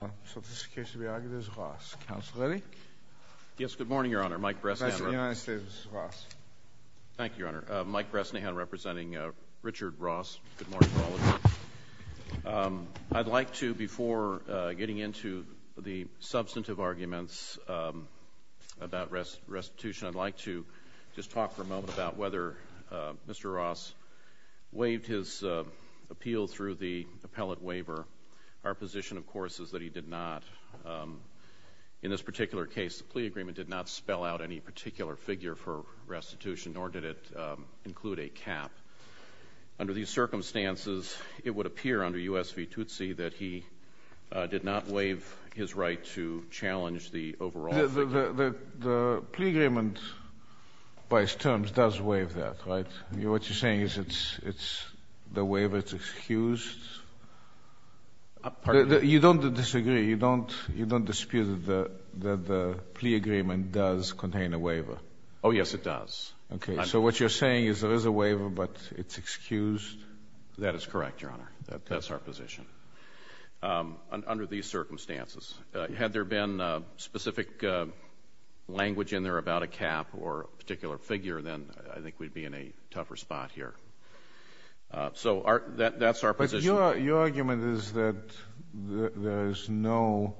I'd like to, before getting into the substantive arguments about restitution, I'd like to just talk for a moment about whether Mr. Ross waived his appeal through the appellate waiver. Our position, of course, is that he did not, in this particular case, the plea agreement did not spell out any particular figure for restitution, nor did it include a cap. Under these circumstances, it would appear under U.S. v. Tootsie that he did not waive his right to challenge the overall figure. The plea agreement, by its terms, does waive that, right? What you're saying is it's the waiver is excused? You don't disagree, you don't dispute that the plea agreement does contain a waiver? Oh, yes, it does. Okay. So what you're saying is there is a waiver, but it's excused? That is correct, Your Honor. That's our position. Under these circumstances, had there been specific language in there about a cap or a particular figure, then I think we'd be in a tougher spot here. So our — that's our position. But your argument is that there is no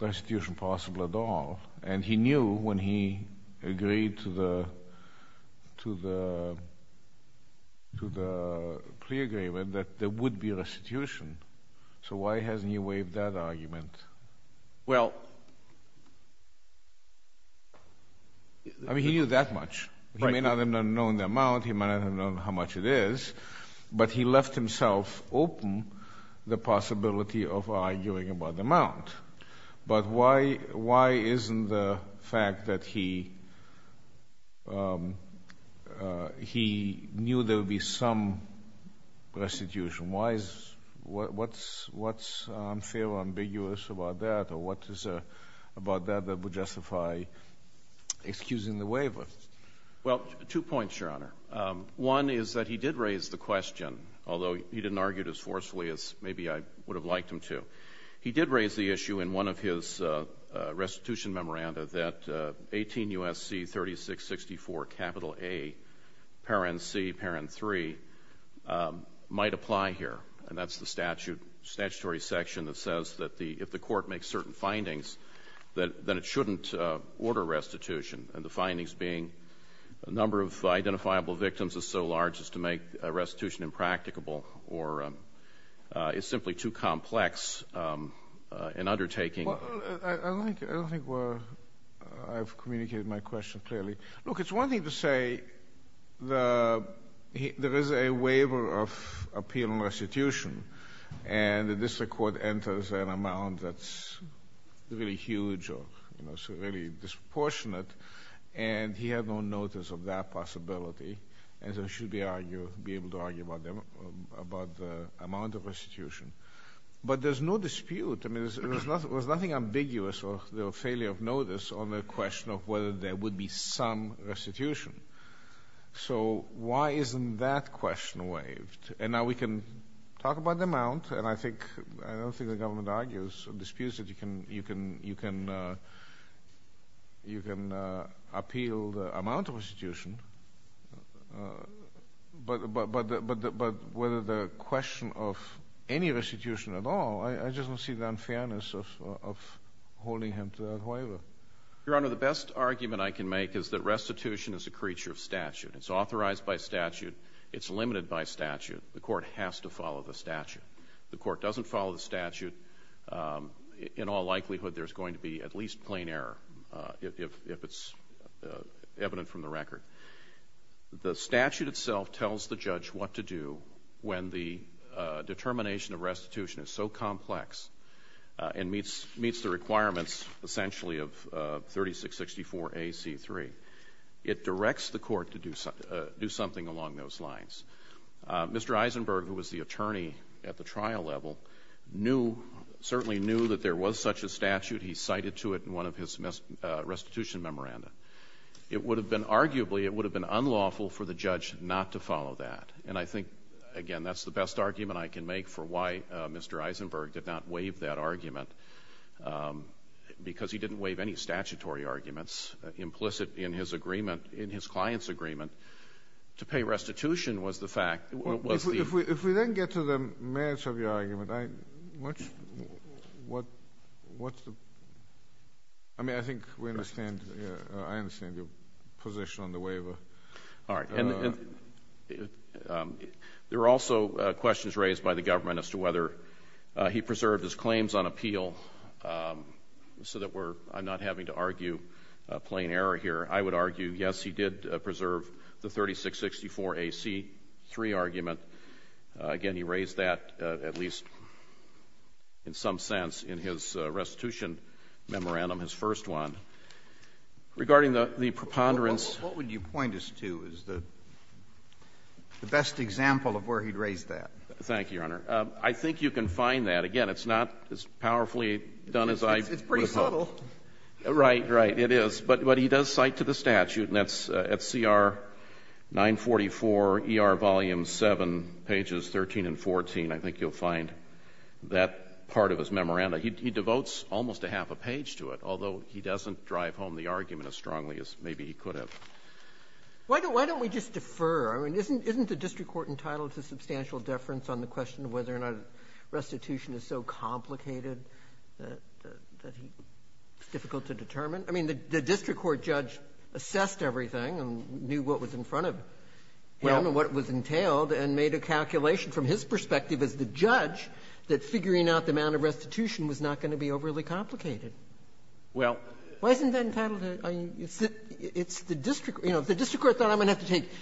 restitution possible at all, and he knew when he agreed to the — to the — to the plea agreement that there would be restitution. So why hasn't he waived that argument? Well — I mean, he knew that much. He may not have known the amount, he may not have known how much it is, but he left himself open the possibility of arguing about the amount. But why — why isn't the fact that he — he knew there would be some restitution? Why is — what's unfair or ambiguous about that, or what is about that that would justify excusing the waiver? Well, two points, Your Honor. One is that he did raise the question, although he didn't argue it as forcefully as maybe I would have liked him to. He did raise the issue in one of his restitution memoranda that 18 U.S.C. 3664, capital A, parent C, parent 3, might apply here. And that's the statute — statutory section that says that the — if the court makes certain findings, that — that it shouldn't order restitution. And the findings being a number of identifiable victims is so large as to make restitution impracticable or is simply too complex an undertaking. Well, I don't think — I don't think we're — I've communicated my question clearly. Look, it's one thing to say the — there is a waiver of appeal and restitution, and the district court enters an amount that's really huge or, you know, really disproportionate, and he had no notice of that possibility. And so it should be argued — be able to argue about the amount of restitution. But there's no dispute. I mean, there's nothing — there's nothing ambiguous or the failure of notice on the question of whether there would be some restitution. So why isn't that question waived? And now we can talk about the amount. And I think — I don't think the government argues or disputes that you can — you can — you can — you can appeal the amount of restitution. But whether the question of any restitution at all, I just don't see the unfairness of holding him to that waiver. Your Honor, the best argument I can make is that restitution is a creature of statute. It's authorized by statute. It's limited by statute. The court has to follow the statute. The court doesn't follow the statute. In all likelihood, there's going to be at least plain error, if it's evident from the record. The statute itself tells the judge what to do when the determination of restitution is so complex and meets — meets the requirements, essentially, of 3664A.C.3. It directs the court to do something along those lines. Mr. Eisenberg, who was the attorney at the trial level, knew — certainly knew that there was such a statute. He cited to it in one of his restitution memoranda. It would have been — arguably, it would have been unlawful for the judge not to follow that. And I think, again, that's the best argument I can make for why Mr. Eisenberg did not waive that argument, because he didn't waive any statutory arguments implicit in his agreement — in his client's agreement. To pay restitution was the fact — was the — If we then get to the merits of your argument, I — what's — what's the — I mean, I think we understand — I understand your position on the waiver. All right. And there were also questions raised by the government as to whether he preserved his claims on appeal, so that we're — I'm not having to argue plain error here. I would argue, yes, he did preserve the 3664A.C.3 argument. Again, he raised that, at least in some sense, in his restitution memorandum, his first one. Regarding the preponderance — the best example of where he'd raised that. Thank you, Your Honor. I think you can find that. Again, it's not as powerfully done as I would hope. It's pretty subtle. Right, right. It is. But he does cite to the statute, and that's at CR 944, ER Volume 7, pages 13 and 14. I think you'll find that part of his memorandum. He devotes almost a half a page to it, although he doesn't drive home the argument as strongly as maybe he could have. Why don't — why don't we just defer? I mean, isn't — isn't the district court entitled to substantial deference on the question of whether or not restitution is so complicated that — that he — it's difficult to determine? I mean, the — the district court judge assessed everything and knew what was in front of him and what was entailed, and made a calculation from his perspective as the judge that figuring out the amount of restitution was not going to be overly complicated. Well — Why isn't that entitled to — I mean, it's the — it's the district — you know, if the district court thought I'm going to have to take —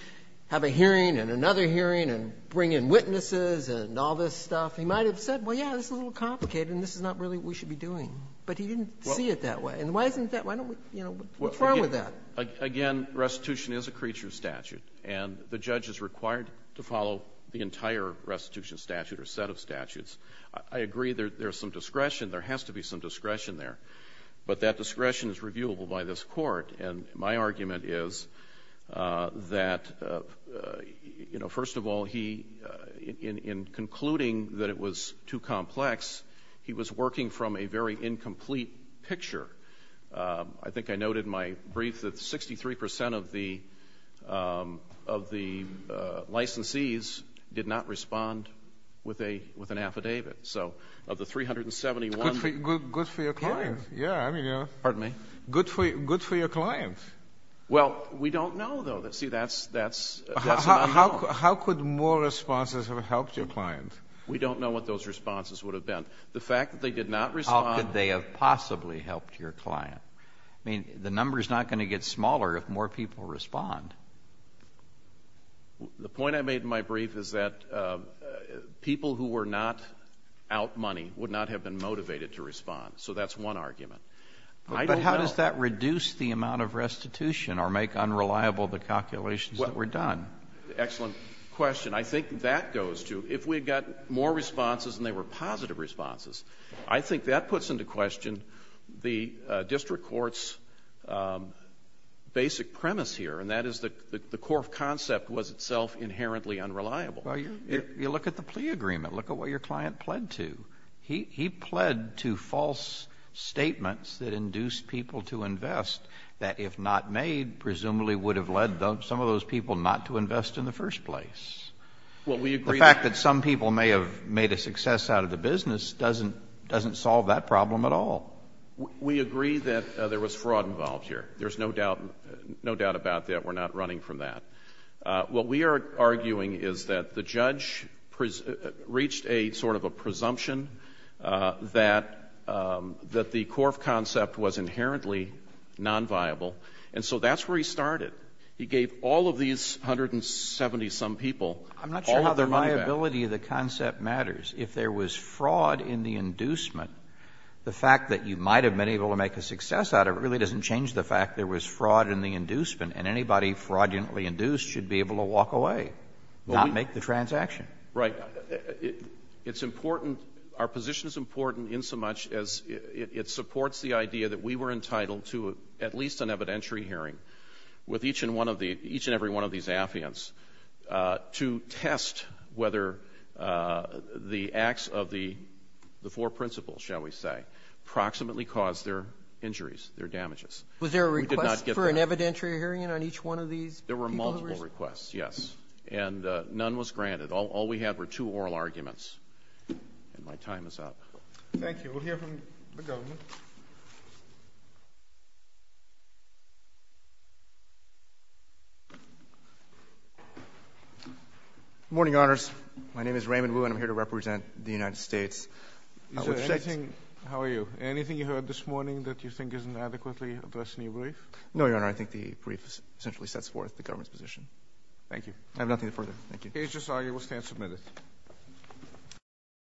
have a hearing and another hearing and bring in witnesses and all this stuff, he might have said, well, yeah, this is a little complicated, and this is not really what we should be doing. But he didn't see it that way. And why isn't that — why don't we — you know, what's wrong with that? Again, restitution is a creature statute, and the judge is required to follow the entire restitution statute or set of statutes. I agree there's some discretion. There has to be some discretion there. But that discretion is reviewable by this Court. And my argument is that, you know, first of all, he — in concluding that it was too complex, he was working from a very incomplete picture. I think I noted in my brief that 63 percent of the — of the licensees did not respond with a — with an affidavit. So of the 371 — Good for your client. Yeah. I mean, you know — Pardon me? Good for — good for your client. Well, we don't know, though. See, that's — that's not known. How could more responses have helped your client? We don't know what those responses would have been. The fact that they did not respond — How could they have possibly helped your client? I mean, the number is not going to get smaller if more people respond. The point I made in my brief is that people who were not out money would not have been motivated to respond. So that's one argument. I don't know — But how does that reduce the amount of restitution or make unreliable the calculations that were done? Well, excellent question. I think that goes to, if we had gotten more responses and they were positive responses, I think that puts into question the district court's basic premise here, and that is the core concept was itself inherently unreliable. Well, you look at the plea agreement. Look at what your client pled to. He pled to false statements that induced people to invest that, if not made, presumably would have led some of those people not to invest in the first place. Well, we agree — The fact that some people may have made a success out of the business doesn't — doesn't solve that problem at all. We agree that there was fraud involved here. There's no doubt — no doubt about that. We're not running from that. What we are arguing is that the judge reached a sort of a presumption that — that the core concept was inherently nonviable. And so that's where he started. He gave all of these 170-some people all of their money back. I'm not sure how the liability of the concept matters. If there was fraud in the inducement, the fact that you might have been able to make a success out of it really doesn't change the fact there was fraud in the inducement. And anybody fraudulently induced should be able to walk away, not make the transaction. Right. It's important — our position is important insomuch as it supports the idea that we were entitled to at least an evidentiary hearing with each and one of the — each and every one of these affiants to test whether the acts of the four principles, shall we say, approximately caused their injuries, their damages. We did not get that. Was there a request for an evidentiary hearing on each one of these people who were — There were multiple requests, yes. And none was granted. All we had were two oral arguments. And my time is up. Thank you. We'll hear from the government. Good morning, Honors. My name is Raymond Wu, and I'm here to represent the United States. Is there anything — how are you? Anything you heard this morning that you think isn't adequately addressed in your brief? No, Your Honor. I think the brief essentially sets forth the government's position. Thank you. I have nothing further. Thank you. The case is argued. We'll stand submitted.